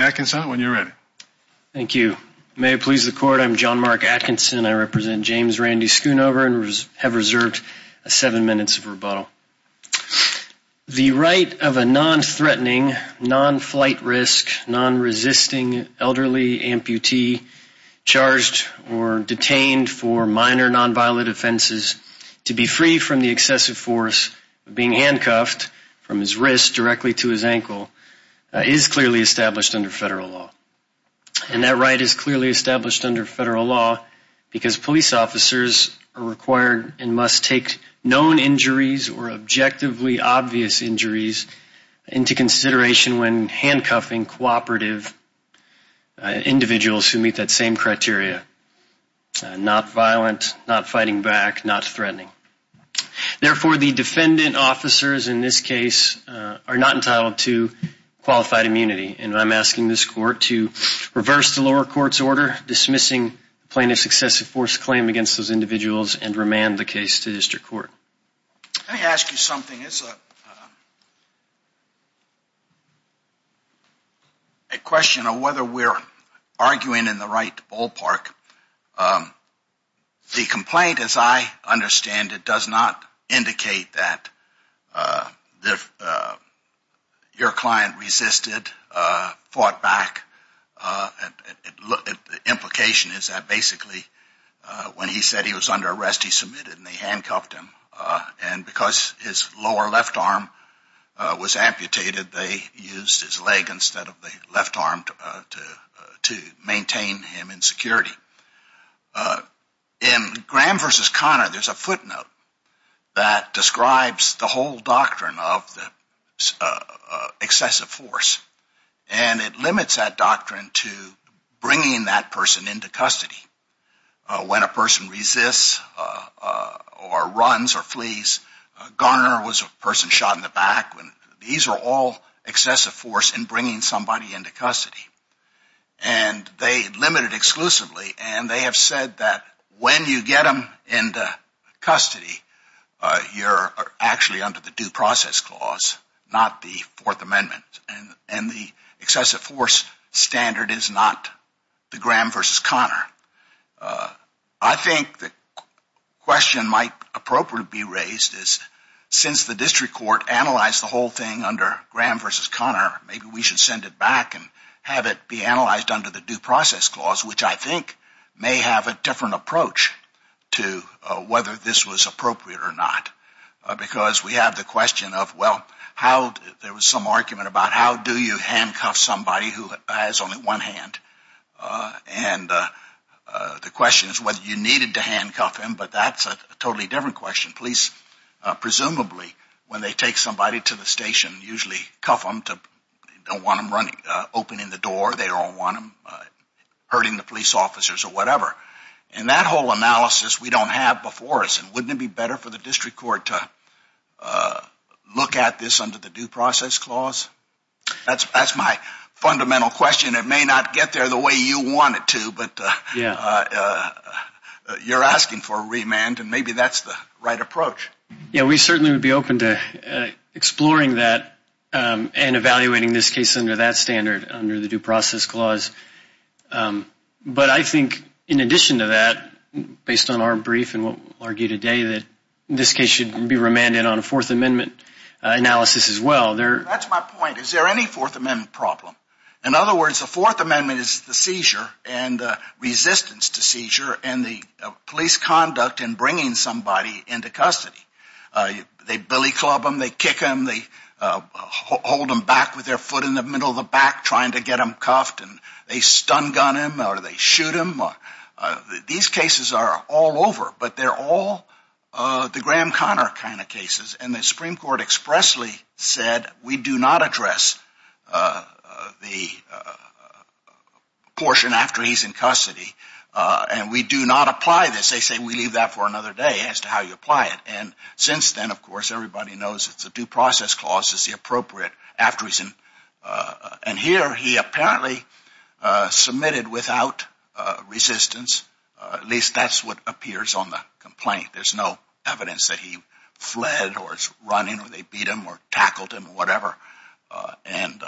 Atkinson, when you're ready. Thank you. May it please the court, I'm John Mark Atkinson. I represent James Randy Schoonover and have reserved seven minutes of rebuttal. The right of a non-threatening, non-flight risk, non-resisting elderly amputee charged or detained for minor non-violent offenses to be free from the excessive force of being handcuffed from his wrist directly to his ankle is clearly established under federal law. And that right is clearly established under federal law because police officers are required and must take known injuries or objectively obvious injuries into consideration when handcuffing cooperative individuals who meet that same criteria. Not violent, not fighting back, not threatening. Therefore, the defendant officers in this case are not entitled to qualified immunity. And I'm asking this court to reverse the lower court's order dismissing plaintiff's excessive force claim against those individuals and remand the case to district court. Let me ask you something. It's a question of whether we're arguing in the right ballpark. The complaint, as I understand it, does not indicate that your client resisted, fought back. The implication is that basically when he said he was under arrest, he submitted and they handcuffed him. And because his lower left arm was amputated, they used his leg instead of the left arm to maintain him in security. In Graham v. Conner, there's a footnote that describes the whole doctrine of excessive force. And it limits that doctrine to bringing that person into custody. When a person resists or runs or flees, Garner was a person shot in the back. These are all excessive force in bringing somebody into custody. And they limit it exclusively. And they have said that when you get them into custody, you're actually under the due process clause, not the Fourth Amendment. And the excessive force standard is not the Graham v. Conner. I think the question might appropriately be raised is since the district court analyzed the whole thing under Graham v. Conner, maybe we should send it back and have it be analyzed under the due process clause, which I think may have a different approach to whether this was appropriate or not. Because we have the question of, well, there was some argument about how do you handcuff somebody who has only one hand? And the question is whether you needed to handcuff him. But that's a totally different question. Police presumably, when they take somebody to the station, usually cuff them. They don't want them opening the door. They don't want them hurting the police officers or whatever. And that whole analysis we don't have before us. And wouldn't it be better for the district court to look at this under the due process clause? That's my fundamental question. It may not get there the way you want it to, but you're asking for a remand, and maybe that's the right approach. Yeah, we certainly would be open to exploring that and evaluating this case under that standard, under the due process clause. But I think in addition to that, based on our brief and what we'll argue today, that this case should be remanded on a Fourth Amendment analysis as well. That's my point. Is there any Fourth Amendment problem? In other words, the Fourth Amendment is the seizure and resistance to seizure and the police conduct in bringing somebody into custody. They billy club them. They kick them. They hold them back with their foot in the middle of the back trying to get them cuffed. They stun gun them or they shoot them. These cases are all over, but they're all the Graham-Connor kind of cases. And the Supreme Court expressly said, we do not address the portion after he's in custody, and we do not apply this. Unless they say we leave that for another day as to how you apply it. And since then, of course, everybody knows it's a due process clause is the appropriate after he's in. And here he apparently submitted without resistance. At least that's what appears on the complaint. There's no evidence that he fled or is running or they beat him or tackled him or whatever. And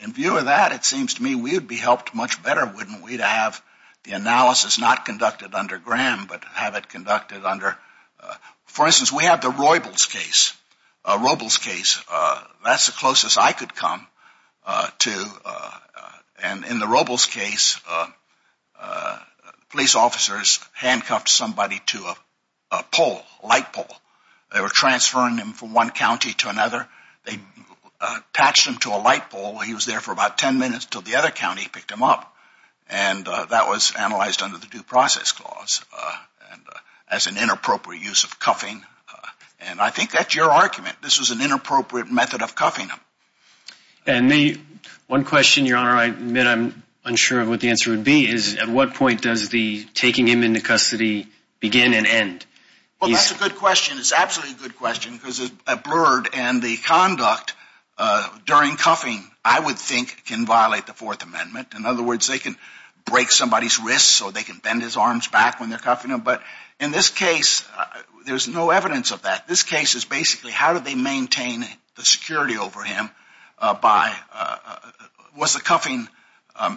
in view of that, it seems to me we would be helped much better, wouldn't we, to have the analysis not conducted under Graham, but have it conducted under, for instance, we have the Robles case. That's the closest I could come to. And in the Robles case, police officers handcuffed somebody to a pole, a light pole. They were transferring him from one county to another. They attached him to a light pole. He was there for about 10 minutes until the other county picked him up. And that was analyzed under the due process clause as an inappropriate use of cuffing. And I think that's your argument. This was an inappropriate method of cuffing him. And one question, Your Honor, I admit I'm unsure of what the answer would be, is at what point does the taking him into custody begin and end? Well, that's a good question. It's absolutely a good question because at Blurred and the conduct during cuffing, I would think, can violate the Fourth Amendment. In other words, they can break somebody's wrist so they can bend his arms back when they're cuffing him. But in this case, there's no evidence of that. This case is basically how do they maintain the security over him by, was the cuffing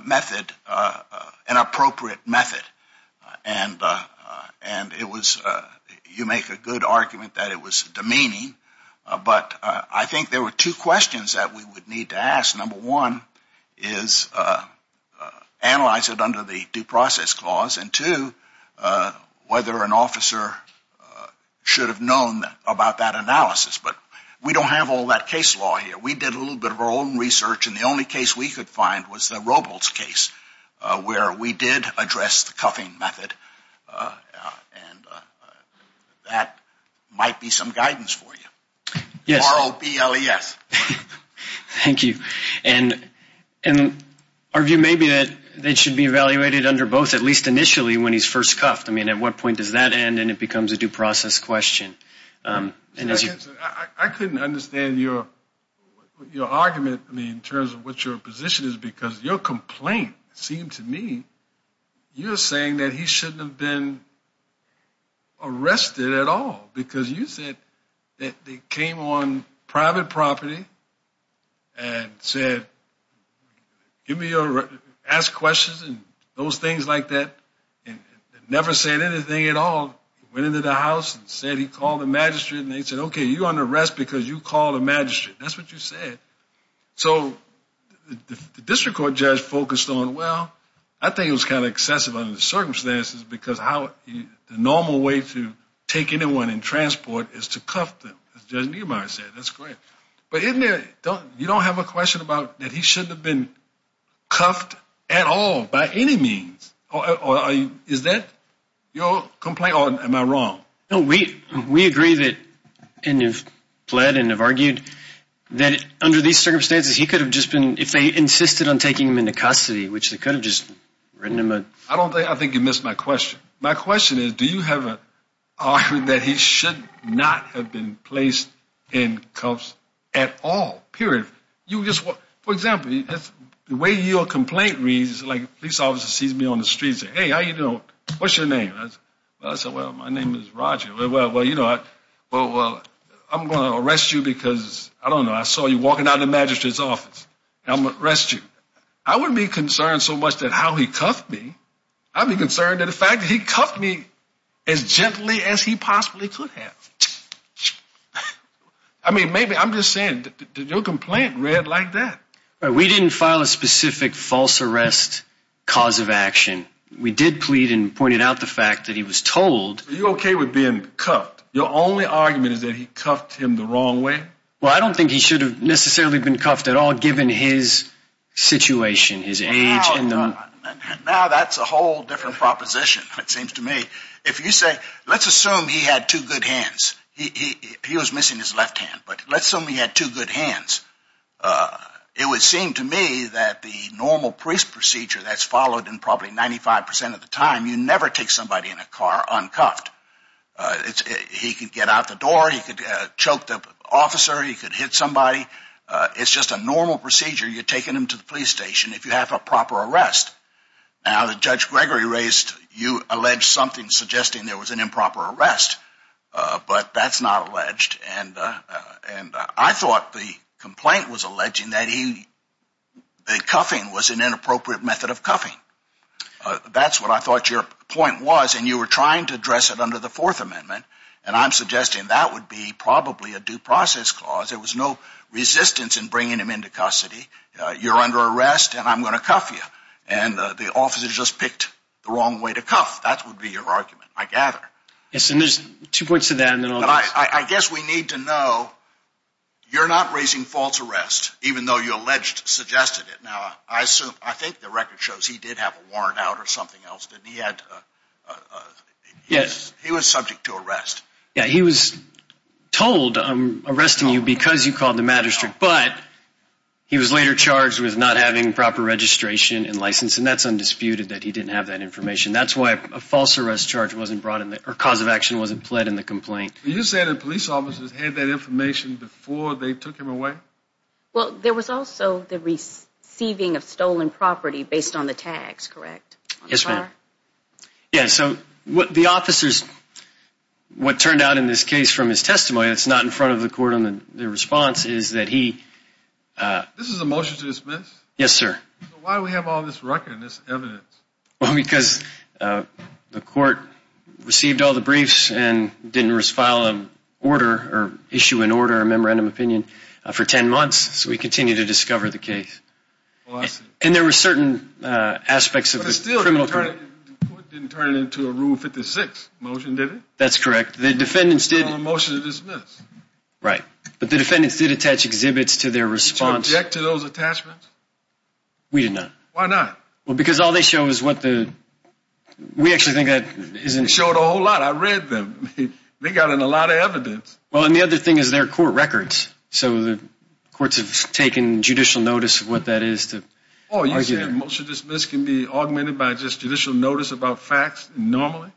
method an appropriate method? And it was, you make a good argument that it was demeaning. But I think there were two questions that we would need to ask. Number one is analyze it under the due process clause. And two, whether an officer should have known about that analysis. But we don't have all that case law here. We did a little bit of our own research, and the only case we could find was the Robles case where we did address the cuffing method. And that might be some guidance for you. Yes. R-O-B-L-E-S. Thank you. And our view may be that it should be evaluated under both, at least initially, when he's first cuffed. I mean, at what point does that end and it becomes a due process question? I couldn't understand your argument in terms of what your position is because your complaint seemed to me, you're saying that he shouldn't have been arrested at all. Because you said that they came on private property and said, ask questions and those things like that, and never said anything at all. Went into the house and said he called the magistrate, and they said, okay, you're under arrest because you called a magistrate. That's what you said. So the district court judge focused on, well, I think it was kind of excessive under the circumstances because the normal way to take anyone in transport is to cuff them, as Judge Niemeyer said. That's correct. But you don't have a question about that he shouldn't have been cuffed at all by any means. Is that your complaint, or am I wrong? No, we agree and have pled and have argued that under these circumstances he could have just been, if they insisted on taking him into custody, which they could have just written him a. I think you missed my question. My question is, do you have an argument that he should not have been placed in cuffs at all, period? For example, the way your complaint reads, like a police officer sees me on the street and says, hey, how are you doing? What's your name? I say, well, my name is Roger. Well, you know, I'm going to arrest you because, I don't know, I saw you walking out of the magistrate's office. I'm going to arrest you. I wouldn't be concerned so much that how he cuffed me. I'd be concerned that the fact that he cuffed me as gently as he possibly could have. I mean, maybe, I'm just saying, your complaint read like that. We didn't file a specific false arrest cause of action. We did plead and pointed out the fact that he was told. Are you okay with being cuffed? Your only argument is that he cuffed him the wrong way? Well, I don't think he should have necessarily been cuffed at all, given his situation, his age. Now that's a whole different proposition, it seems to me. If you say, let's assume he had two good hands. He was missing his left hand, but let's assume he had two good hands. It would seem to me that the normal police procedure that's followed in probably 95% of the time, you never take somebody in a car uncuffed. He could get out the door. He could choke the officer. He could hit somebody. It's just a normal procedure. You're taking him to the police station if you have a proper arrest. Now, the Judge Gregory raised, you alleged something suggesting there was an improper arrest, but that's not alleged. And I thought the complaint was alleging that the cuffing was an inappropriate method of cuffing. That's what I thought your point was, and you were trying to address it under the Fourth Amendment, and I'm suggesting that would be probably a due process clause. There was no resistance in bringing him into custody. You're under arrest, and I'm going to cuff you. And the officer just picked the wrong way to cuff. That would be your argument, I gather. Yes, and there's two points to that. I guess we need to know you're not raising false arrest, even though you alleged, suggested it. Now, I think the record shows he did have a warrant out or something else. He was subject to arrest. Yeah, he was told, I'm arresting you because you called the magistrate, but he was later charged with not having proper registration and license, and that's undisputed that he didn't have that information. That's why a false arrest charge wasn't brought in, or cause of action wasn't pled in the complaint. Are you saying that police officers had that information before they took him away? Well, there was also the receiving of stolen property based on the tags, correct? Yes, ma'am. Yeah, so what the officers, what turned out in this case from his testimony, it's not in front of the court on the response, is that he... This is a motion to dismiss? Yes, sir. Why do we have all this record and this evidence? Well, because the court received all the briefs and didn't file an order or issue an order, a memorandum of opinion, for 10 months, so we continue to discover the case. Oh, I see. And there were certain aspects of the criminal... But the court didn't turn it into a Rule 56 motion, did it? That's correct. The defendants did... It's not a motion to dismiss. Right, but the defendants did attach exhibits to their response... Did you object to those attachments? We did not. Why not? Well, because all they show is what the... We actually think that isn't... They showed a whole lot. I read them. They got in a lot of evidence. Well, and the other thing is they're court records. So the courts have taken judicial notice of what that is to... Oh, you're saying a motion to dismiss can be augmented by just judicial notice about facts normally?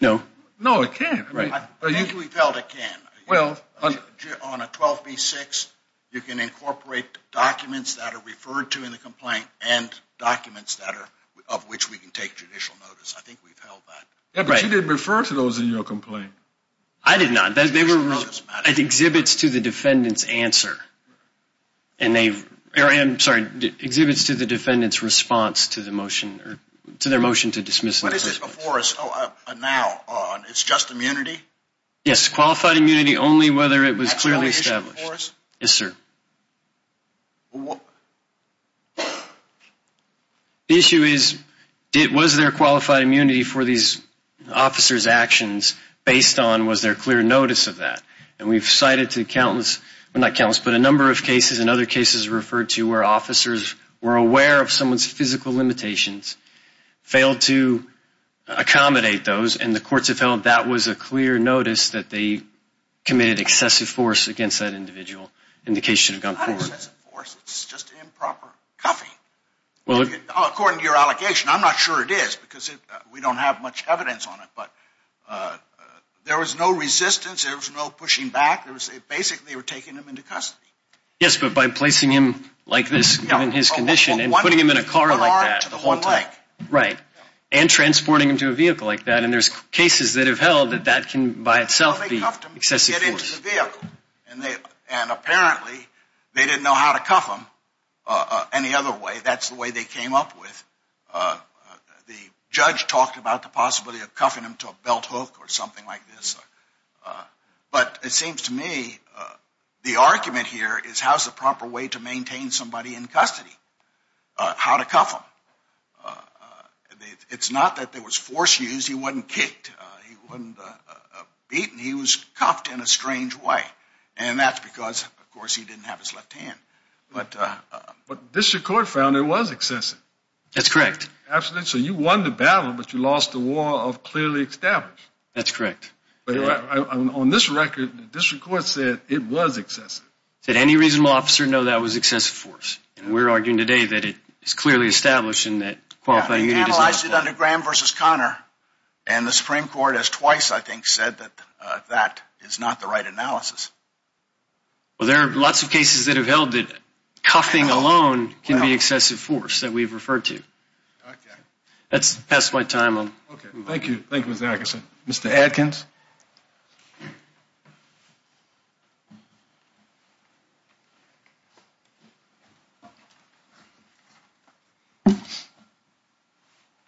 No. No, it can't. I think we've held it can. Well... On a 12B-6, you can incorporate documents that are referred to in the complaint and documents that are, of which we can take judicial notice. I think we've held that. Yeah, but you did refer to those in your complaint. I did not. They were exhibits to the defendant's answer. And they've... I'm sorry. Exhibits to the defendant's response to the motion or to their motion to dismiss. What is it before us now? It's just immunity? Yes, qualified immunity, only whether it was clearly established. That's the only issue before us? Yes, sir. Well, what... officer's actions based on was there clear notice of that? And we've cited to accountants... Well, not accountants, but a number of cases and other cases referred to where officers were aware of someone's physical limitations, failed to accommodate those, and the courts have held that was a clear notice that they committed excessive force against that individual. And the case should have gone forward. Not excessive force. It's just improper cuffing. Well... According to your allegation... I'm not sure it is because we don't have much evidence on it. But there was no resistance. There was no pushing back. Basically, they were taking him into custody. Yes, but by placing him like this given his condition and putting him in a car like that... One arm to the one leg. Right. And transporting him to a vehicle like that. And there's cases that have held that that can by itself be excessive force. Well, they cuffed him to get into the vehicle. And apparently they didn't know how to cuff him any other way. That's the way they came up with. The judge talked about the possibility of cuffing him to a belt hook or something like this. But it seems to me the argument here is how's the proper way to maintain somebody in custody? How to cuff him? It's not that there was force used. He wasn't kicked. He wasn't beaten. He was cuffed in a strange way. And that's because, of course, he didn't have his left hand. But district court found it was excessive. That's correct. Absolutely. So you won the battle, but you lost the war of clearly established. That's correct. On this record, district court said it was excessive. Did any reasonable officer know that was excessive force? And we're arguing today that it's clearly established and that... They analyzed it under Graham v. Conner. And the Supreme Court has twice, I think, said that that is not the right analysis. Well, there are lots of cases that have held that cuffing alone can be excessive force that we've referred to. Okay. That's the best of my time. Okay. Thank you. Thank you, Mr. Atkinson. Mr. Atkins?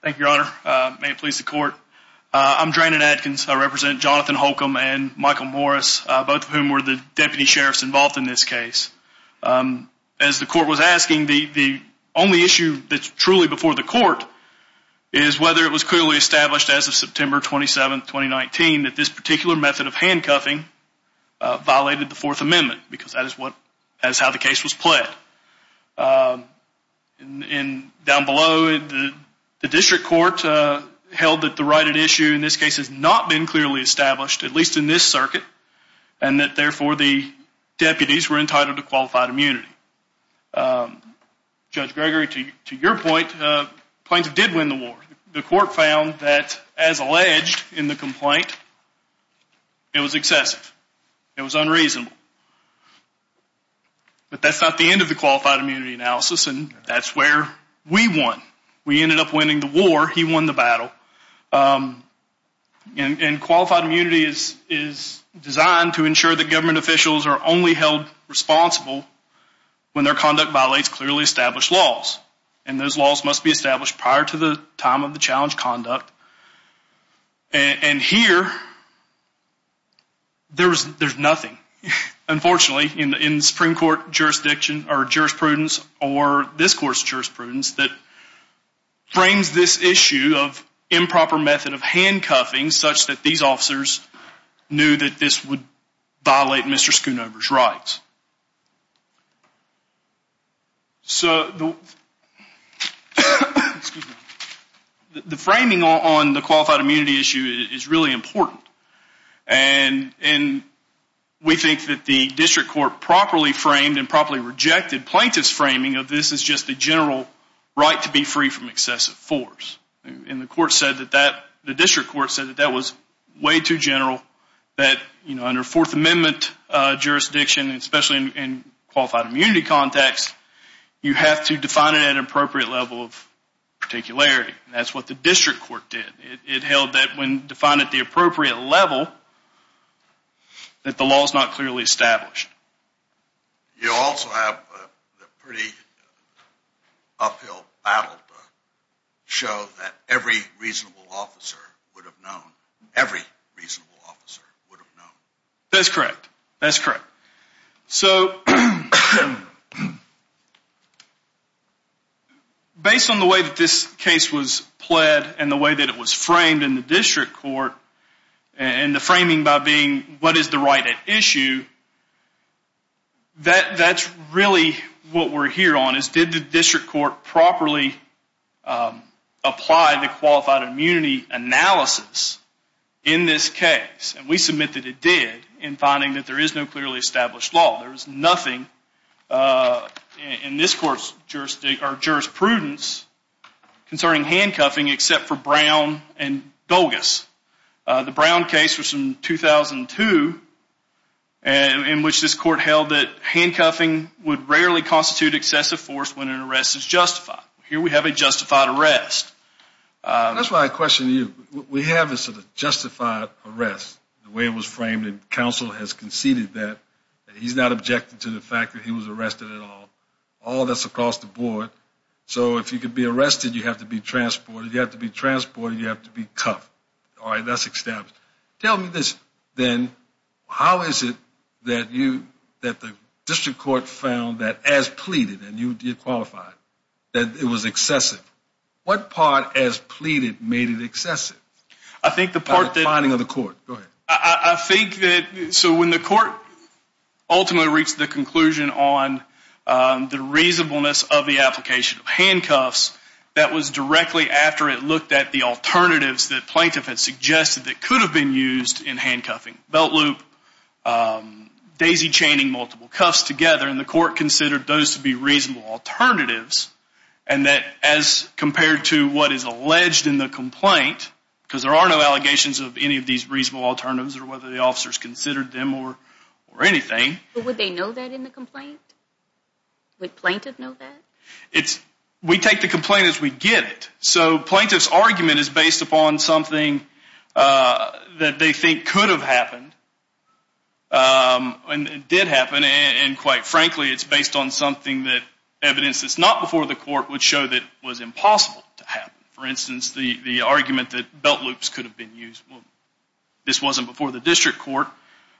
Thank you, Your Honor. May it please the court. I'm Dranon Atkins. I represent Jonathan Holcomb and Michael Morris, both of whom were the deputy sheriffs involved in this case. As the court was asking, the only issue that's truly before the court is whether it was clearly established as of September 27, 2019, that this particular method of handcuffing violated the Fourth Amendment because that is how the case was pled. And down below, the district court held that the right at issue in this case has not been clearly established, at least in this circuit, and that, therefore, the deputies were entitled to qualified immunity. Judge Gregory, to your point, Plains did win the war. The court found that, as alleged in the complaint, it was excessive. It was unreasonable. But that's not the end of the qualified immunity analysis, and that's where we won. We ended up winning the war. He won the battle. And qualified immunity is designed to ensure that government officials are only held responsible when their conduct violates clearly established laws, and those laws must be established prior to the time of the challenged conduct. And here, there's nothing, unfortunately, in the Supreme Court jurisprudence or this court's jurisprudence that frames this issue of improper method of handcuffing such that these officers knew that this would violate Mr. Schoonover's rights. So the framing on the qualified immunity issue is really important, and we think that the district court properly framed and properly rejected plaintiff's framing of this as just a general right to be free from excessive force. And the court said that that, the district court said that that was way too general, that under Fourth Amendment jurisdiction, especially in qualified immunity context, you have to define it at an appropriate level of particularity. That's what the district court did. It held that when defined at the appropriate level, that the law is not clearly established. You also have a pretty uphill battle to show that every reasonable officer would have known. Every reasonable officer would have known. That's correct. That's correct. So, based on the way that this case was pled and the way that it was framed in the district court, and the framing by being what is the right at issue, that's really what we're here on is did the district court properly apply the qualified immunity analysis in this case? And we submit that it did in finding that there is no clearly established law. There is nothing in this court's jurisprudence concerning handcuffing except for Brown and Dulgas. The Brown case was from 2002 in which this court held that handcuffing would rarely constitute excessive force when an arrest is justified. Here we have a justified arrest. That's why I question you. We have this justified arrest, the way it was framed, and counsel has conceded that. He's not objecting to the fact that he was arrested at all. All that's across the board. So, if you could be arrested, you have to be transported. You have to be transported. You have to be cuffed. All right, that's established. Tell me this then. How is it that you, that the district court found that as pleaded, and you qualified, that it was excessive? What part as pleaded made it excessive? I think the part that... By the finding of the court. Go ahead. I think that, so when the court ultimately reached the conclusion on the reasonableness of the application of handcuffs, that was directly after it looked at the alternatives that plaintiff had suggested that could have been used in handcuffing. Belt loop, daisy chaining multiple cuffs together, and the court considered those to be reasonable alternatives, and that as compared to what is alleged in the complaint, because there are no allegations of any of these reasonable alternatives or whether the officers considered them or anything. Would they know that in the complaint? Would plaintiff know that? It's, we take the complaint as we get it. So, plaintiff's argument is based upon something that they think could have happened and did happen, and quite frankly, it's based on something that evidence that's not before the court would show that was impossible to happen. For instance, the argument that belt loops could have been used, well, this wasn't before the district court,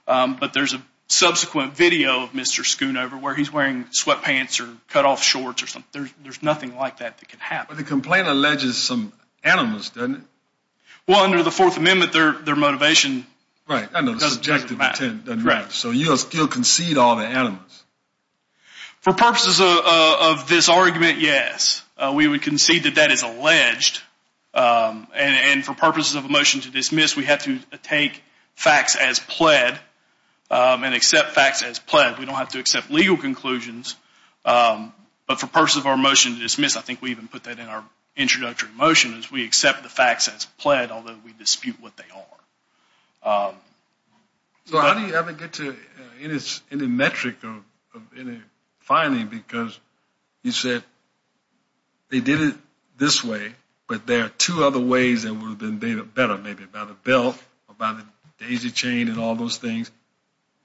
but there's a subsequent video of Mr. Schoonover where he's wearing sweatpants or cut-off shorts or something. There's nothing like that that could happen. But the complaint alleges some animals, doesn't it? Well, under the Fourth Amendment, their motivation... Right. ...doesn't matter. So, you'll concede all the animals? For purposes of this argument, yes. We would concede that that is alleged. And for purposes of a motion to dismiss, we have to take facts as pled and accept facts as pled. We don't have to accept legal conclusions. But for purposes of our motion to dismiss, I think we even put that in our introductory motion, is we accept the facts as pled, although we dispute what they are. So, how do you ever get to any metric of any finding? Because you said they did it this way, but there are two other ways that would have been better, maybe by the belt or by the daisy chain and all those things.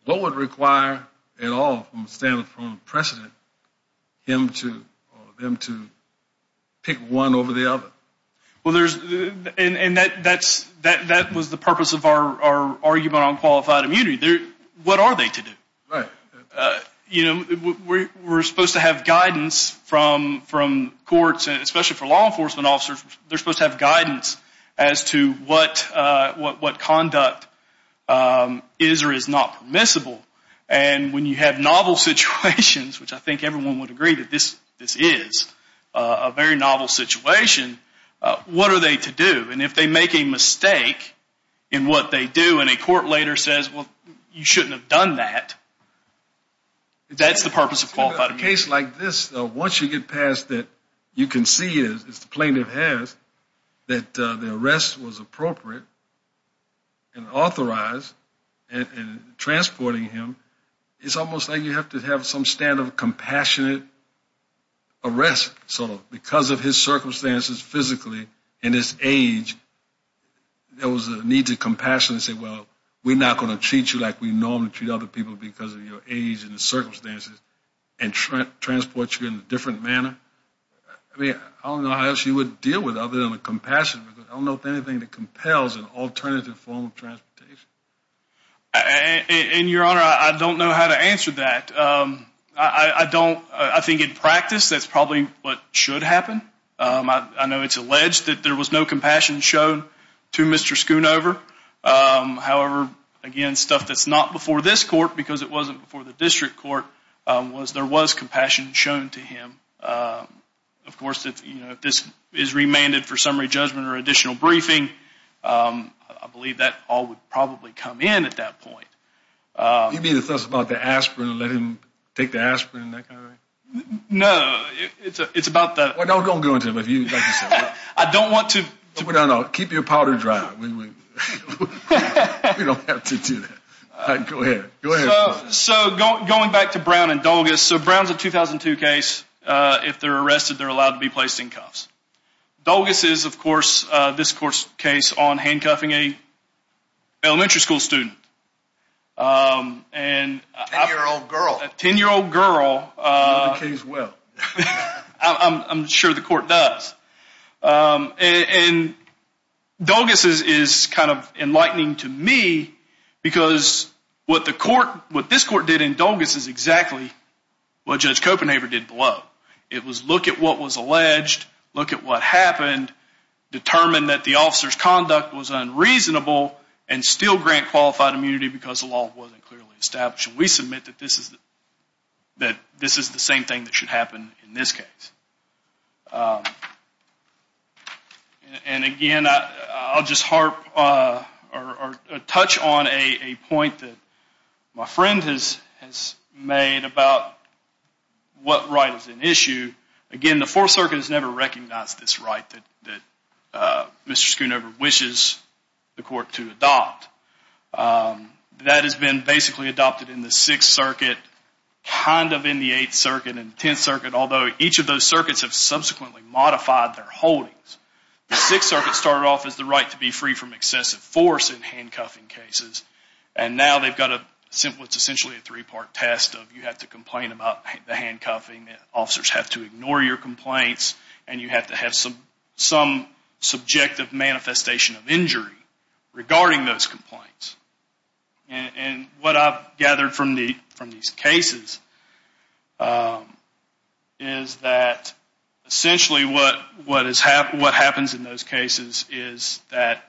What would require at all from a stand-alone precedent for them to pick one over the other? And that was the purpose of our argument on qualified immunity. What are they to do? We're supposed to have guidance from courts, especially for law enforcement officers. They're supposed to have guidance as to what conduct is or is not permissible. And when you have novel situations, which I think everyone would agree that this is a very novel situation, what are they to do? And if they make a mistake in what they do and a court later says, well, you shouldn't have done that, that's the purpose of qualified immunity. In a case like this, once you get past it, you can see, as the plaintiff has, that the arrest was appropriate and authorized and transporting him, it's almost like you have to have some standard of compassionate arrest, sort of, because of his circumstances physically and his age, there was a need to compassionately say, well, we're not going to treat you like we normally treat other people because of your age and the circumstances and transport you in a different manner. I don't know how else you would deal with it other than with compassion. I don't know of anything that compels an alternative form of transportation. And, Your Honor, I don't know how to answer that. I think in practice that's probably what should happen. I know it's alleged that there was no compassion shown to Mr. Schoonover. However, again, stuff that's not before this court, because it wasn't before the district court, was there was compassion shown to him. Of course, if this is remanded for summary judgment or additional briefing, I believe that all would probably come in at that point. You mean it's just about the aspirin, let him take the aspirin and that kind of thing? No, it's about the... Well, don't go into it with you, like you said. I don't want to... No, no, keep your powder dry. We don't have to do that. All right, go ahead. Go ahead. So going back to Brown and Dulgas, so Brown's a 2002 case. If they're arrested, they're allowed to be placed in cuffs. Dulgas is, of course, this court's case on handcuffing an elementary school student. A 10-year-old girl. A 10-year-old girl. The case will. I'm sure the court does. And Dulgas is kind of enlightening to me because what the court, what this court did in Dulgas is exactly what Judge Copenhaver did below. It was look at what was alleged, look at what happened, determine that the officer's conduct was unreasonable and still grant qualified immunity because the law wasn't clearly established. And we submit that this is the same thing that should happen in this case. And, again, I'll just harp or touch on a point that my friend has made about what right is an issue. Again, the Fourth Circuit has never recognized this right that Mr. Schoonover wishes the court to adopt. That has been basically adopted in the Sixth Circuit, kind of in the Eighth Circuit and the Tenth Circuit, although each of those circuits have subsequently modified their holdings. The Sixth Circuit started off as the right to be free from excessive force in handcuffing cases, and now they've got what's essentially a three-part test of you have to complain about the handcuffing, officers have to ignore your complaints, and you have to have some subjective manifestation of injury regarding those complaints. And what I've gathered from these cases is that essentially what happens in those cases is that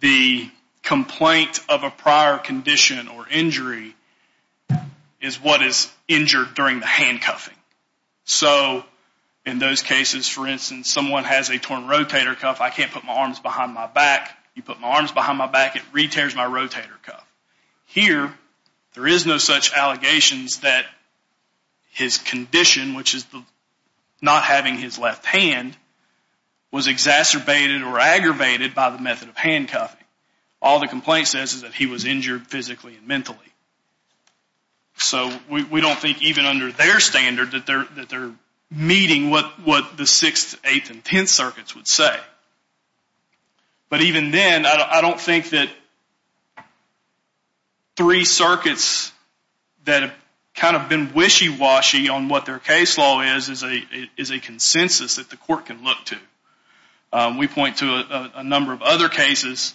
the complaint of a prior condition or injury is what is injured during the handcuffing. So in those cases, for instance, someone has a torn rotator cuff. I can't put my arms behind my back. You put my arms behind my back, it re-tears my rotator cuff. Here, there is no such allegations that his condition, which is not having his left hand, was exacerbated or aggravated by the method of handcuffing. All the complaint says is that he was injured physically and mentally. So we don't think even under their standard that they're meeting what the Sixth, Eighth, and Tenth Circuits would say. But even then, I don't think that three circuits that have kind of been wishy-washy on what their case law is is a consensus that the court can look to. We point to a number of other cases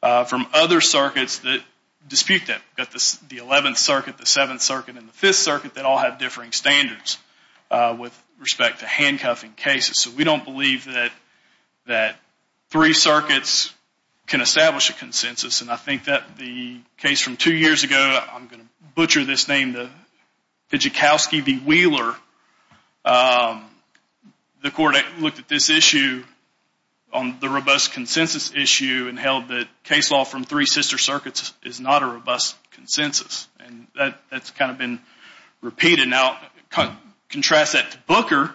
from other circuits that dispute that. We've got the Eleventh Circuit, the Seventh Circuit, and the Fifth Circuit that all have differing standards with respect to handcuffing cases. So we don't believe that three circuits can establish a consensus. And I think that the case from two years ago, I'm going to butcher this name, the Pijikowski v. Wheeler, the court looked at this issue on the robust consensus issue and held that case law from three sister circuits is not a robust consensus. And that's kind of been repeated. Now, contrast that to Booker,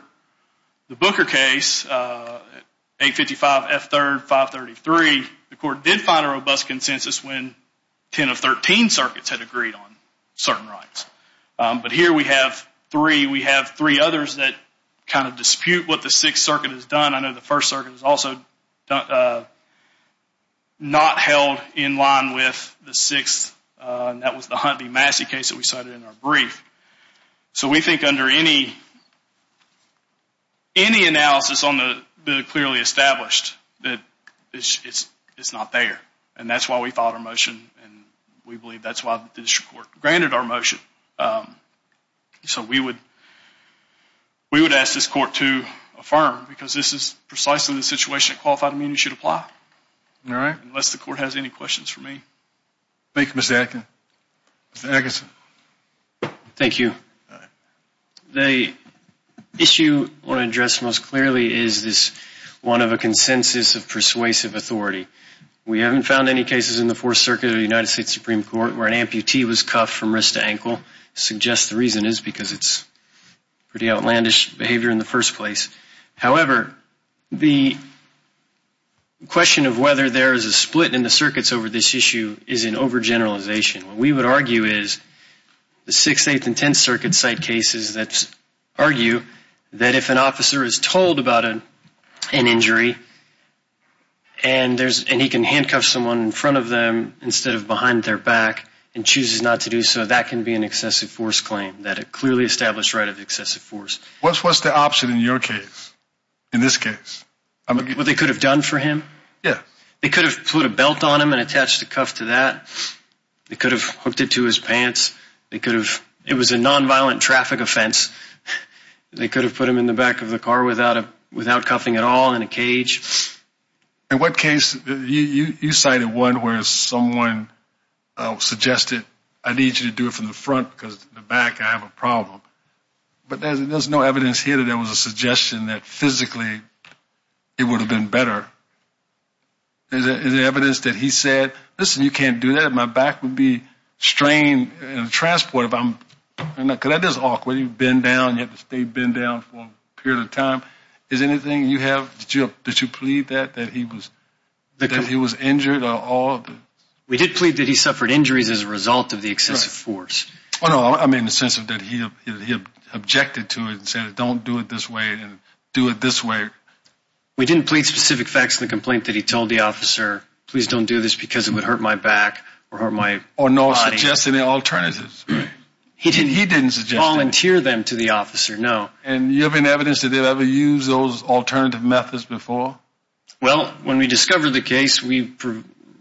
the Booker case, 855 F. 3rd, 533, the court did find a robust consensus when 10 of 13 circuits had agreed on certain rights. But here we have three. We have three others that kind of dispute what the Sixth Circuit has done. I know the First Circuit has also not held in line with the Sixth, and that was the Hunt v. Massey case that we cited in our brief. So we think under any analysis on the clearly established that it's not there. And that's why we filed our motion, and we believe that's why the district court granted our motion. So we would ask this court to affirm because this is precisely the situation that qualified amenity should apply. Unless the court has any questions for me. Thank you, Mr. Atkin. Mr. Atkinson. Thank you. The issue I want to address most clearly is this one of a consensus of persuasive authority. We haven't found any cases in the Fourth Circuit or the United States Supreme Court where an amputee was cuffed from wrist to ankle. I suggest the reason is because it's pretty outlandish behavior in the first place. However, the question of whether there is a split in the circuits over this issue is an overgeneralization. What we would argue is the Sixth, Eighth, and Tenth Circuit site cases that argue that if an officer is told about an injury and he can handcuff someone in front of them instead of behind their back and chooses not to do so, that can be an excessive force claim, that a clearly established right of excessive force. What's the option in your case, in this case? What they could have done for him? They could have put a belt on him and attached a cuff to that. They could have hooked it to his pants. It was a nonviolent traffic offense. They could have put him in the back of the car without cuffing at all, in a cage. In what case? You cited one where someone suggested, I need you to do it from the front because in the back I have a problem. But there's no evidence here that there was a suggestion that physically it would have been better. Is there evidence that he said, listen, you can't do that. My back would be strained in a transport if I'm – because that is awkward. You bend down, you have to stay bent down for a period of time. Is there anything you have? Did you plead that, that he was injured? We did plead that he suffered injuries as a result of the excessive force. Oh, no, I mean in the sense that he objected to it and said don't do it this way and do it this way. We didn't plead specific facts in the complaint that he told the officer, please don't do this because it would hurt my back or hurt my body. Or not suggest any alternatives. He didn't volunteer them to the officer, no. And you have any evidence that they've ever used those alternative methods before? Well, when we discovered the case, we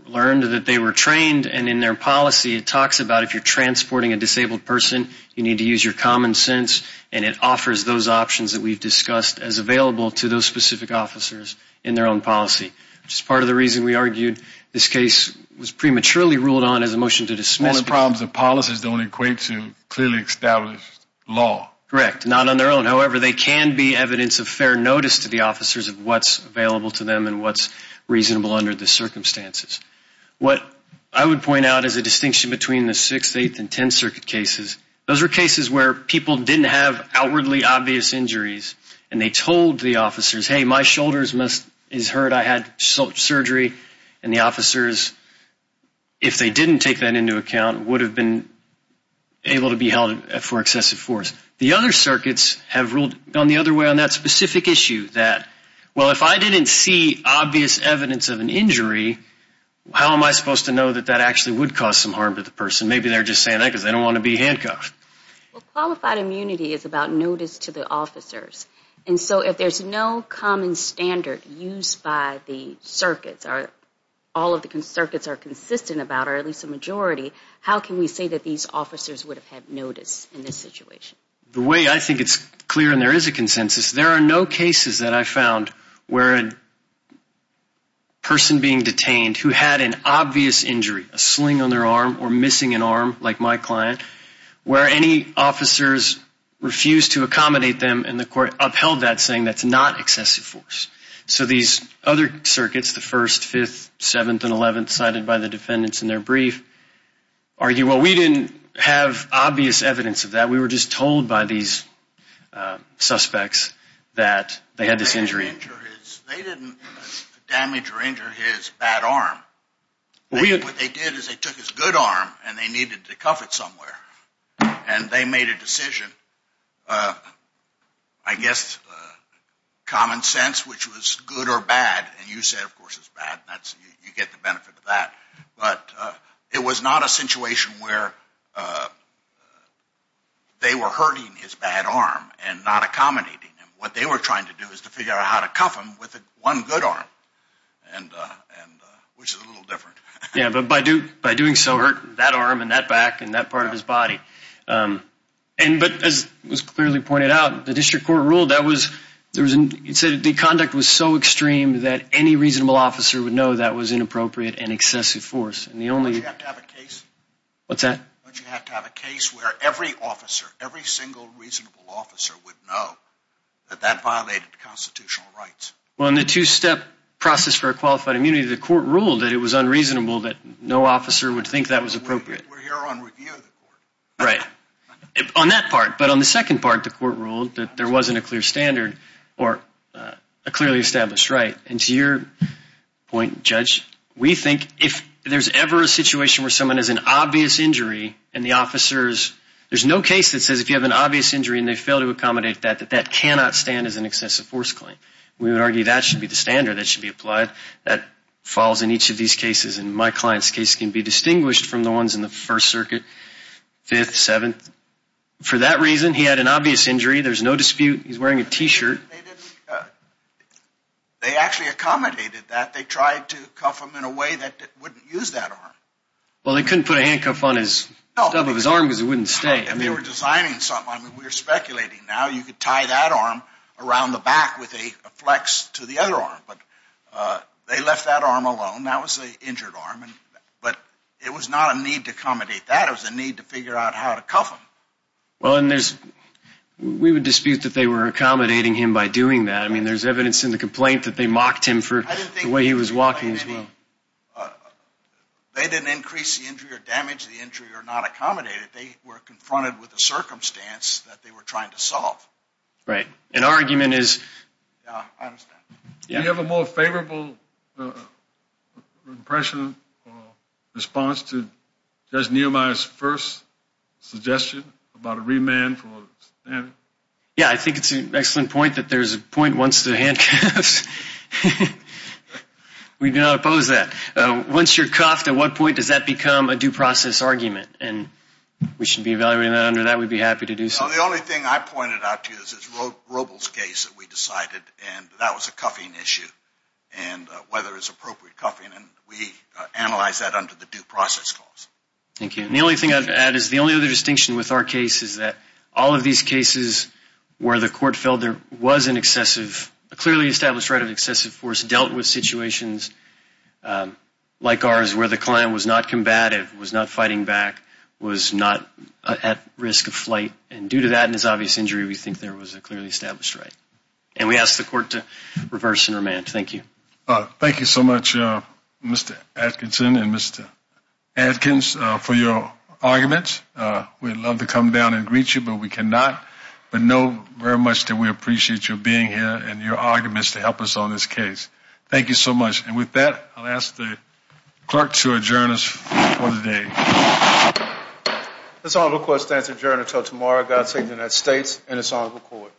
learned that they were trained and in their policy it talks about if you're transporting a disabled person, you need to use your common sense, and it offers those options that we've discussed as available to those specific officers in their own policy, which is part of the reason we argued this case was prematurely ruled on as a motion to dismiss. All the problems of policy don't equate to clearly established law. Correct, not on their own. However, they can be evidence of fair notice to the officers of what's available to them and what's reasonable under the circumstances. What I would point out is a distinction between the 6th, 8th, and 10th Circuit cases. Those were cases where people didn't have outwardly obvious injuries and they told the officers, hey, my shoulder is hurt, I had surgery, and the officers, if they didn't take that into account, would have been able to be held for excessive force. The other circuits have ruled on the other way on that specific issue, that, well, if I didn't see obvious evidence of an injury, how am I supposed to know that that actually would cause some harm to the person? Maybe they're just saying that because they don't want to be handcuffed. Well, qualified immunity is about notice to the officers, and so if there's no common standard used by the circuits, all of the circuits are consistent about, or at least the majority, how can we say that these officers would have had notice in this situation? The way I think it's clear and there is a consensus, there are no cases that I've found where a person being detained who had an obvious injury, a sling on their arm or missing an arm, like my client, where any officers refused to accommodate them, and the court upheld that saying that's not excessive force. So these other circuits, the 1st, 5th, 7th, and 11th, cited by the defendants in their brief, argue, well, we didn't have obvious evidence of that, we were just told by these suspects that they had this injury. They didn't damage or injure his bad arm. What they did is they took his good arm and they needed to cuff it somewhere, and they made a decision, I guess, common sense, which was good or bad, and you said, of course, it's bad, and you get the benefit of that, but it was not a situation where they were hurting his bad arm and not accommodating him. What they were trying to do is to figure out how to cuff him with one good arm, which is a little different. Yeah, but by doing so hurt that arm and that back and that part of his body. But as was clearly pointed out, the district court ruled that was, it said the conduct was so extreme that any reasonable officer would know that was inappropriate and excessive force. Don't you have to have a case? What's that? Don't you have to have a case where every officer, every single reasonable officer would know that that violated constitutional rights? Well, in the two-step process for a qualified immunity, the court ruled that it was unreasonable that no officer would think that was appropriate. We're here on review of the court. Right. On that part. But on the second part, the court ruled that there wasn't a clear standard or a clearly established right, and to your point, Judge, we think if there's ever a situation where someone has an obvious injury and the officers, there's no case that says if you have an obvious injury and they fail to accommodate that, that that cannot stand as an excessive force claim. We would argue that should be the standard that should be applied. That falls in each of these cases. In my client's case, it can be distinguished from the ones in the First Circuit, Fifth, Seventh. For that reason, he had an obvious injury. There's no dispute. He's wearing a T-shirt. They actually accommodated that. They tried to cuff him in a way that wouldn't use that arm. Well, they couldn't put a handcuff on the top of his arm because it wouldn't stay. They were designing something. We're speculating. Now you could tie that arm around the back with a flex to the other arm. But they left that arm alone. That was the injured arm. But it was not a need to accommodate that. It was a need to figure out how to cuff him. Well, and we would dispute that they were accommodating him by doing that. I mean, there's evidence in the complaint that they mocked him for the way he was walking as well. They didn't increase the injury or damage the injury or not accommodate it. They were confronted with a circumstance that they were trying to solve. Right. An argument is... Yeah, I understand. Do you have a more favorable impression or response to Judge Nehemiah's first suggestion about a remand? Yeah, I think it's an excellent point that there's a point once the handcuffs... We do not oppose that. Once you're cuffed, at what point does that become a due process argument? And we should be evaluating that under that. We'd be happy to do so. Well, the only thing I pointed out to you is this Robles case that we decided, and that was a cuffing issue, and whether it's appropriate cuffing. And we analyzed that under the due process clause. Thank you. And the only thing I'd add is the only other distinction with our case is that all of these cases where the court felt there was an excessive, a clearly established right of excessive force, dealt with situations like ours where the client was not combative, was not fighting back, was not at risk of flight. And due to that and his obvious injury, we think there was a clearly established right. And we ask the court to reverse and remand. Thank you. Thank you so much, Mr. Atkinson and Mr. Adkins, for your arguments. We'd love to come down and greet you, but we cannot. But know very much that we appreciate your being here and your arguments to help us on this case. Thank you so much. And with that, I'll ask the clerk to adjourn us for the day. This honorable court stands adjourned until tomorrow. God save the United States and this honorable court.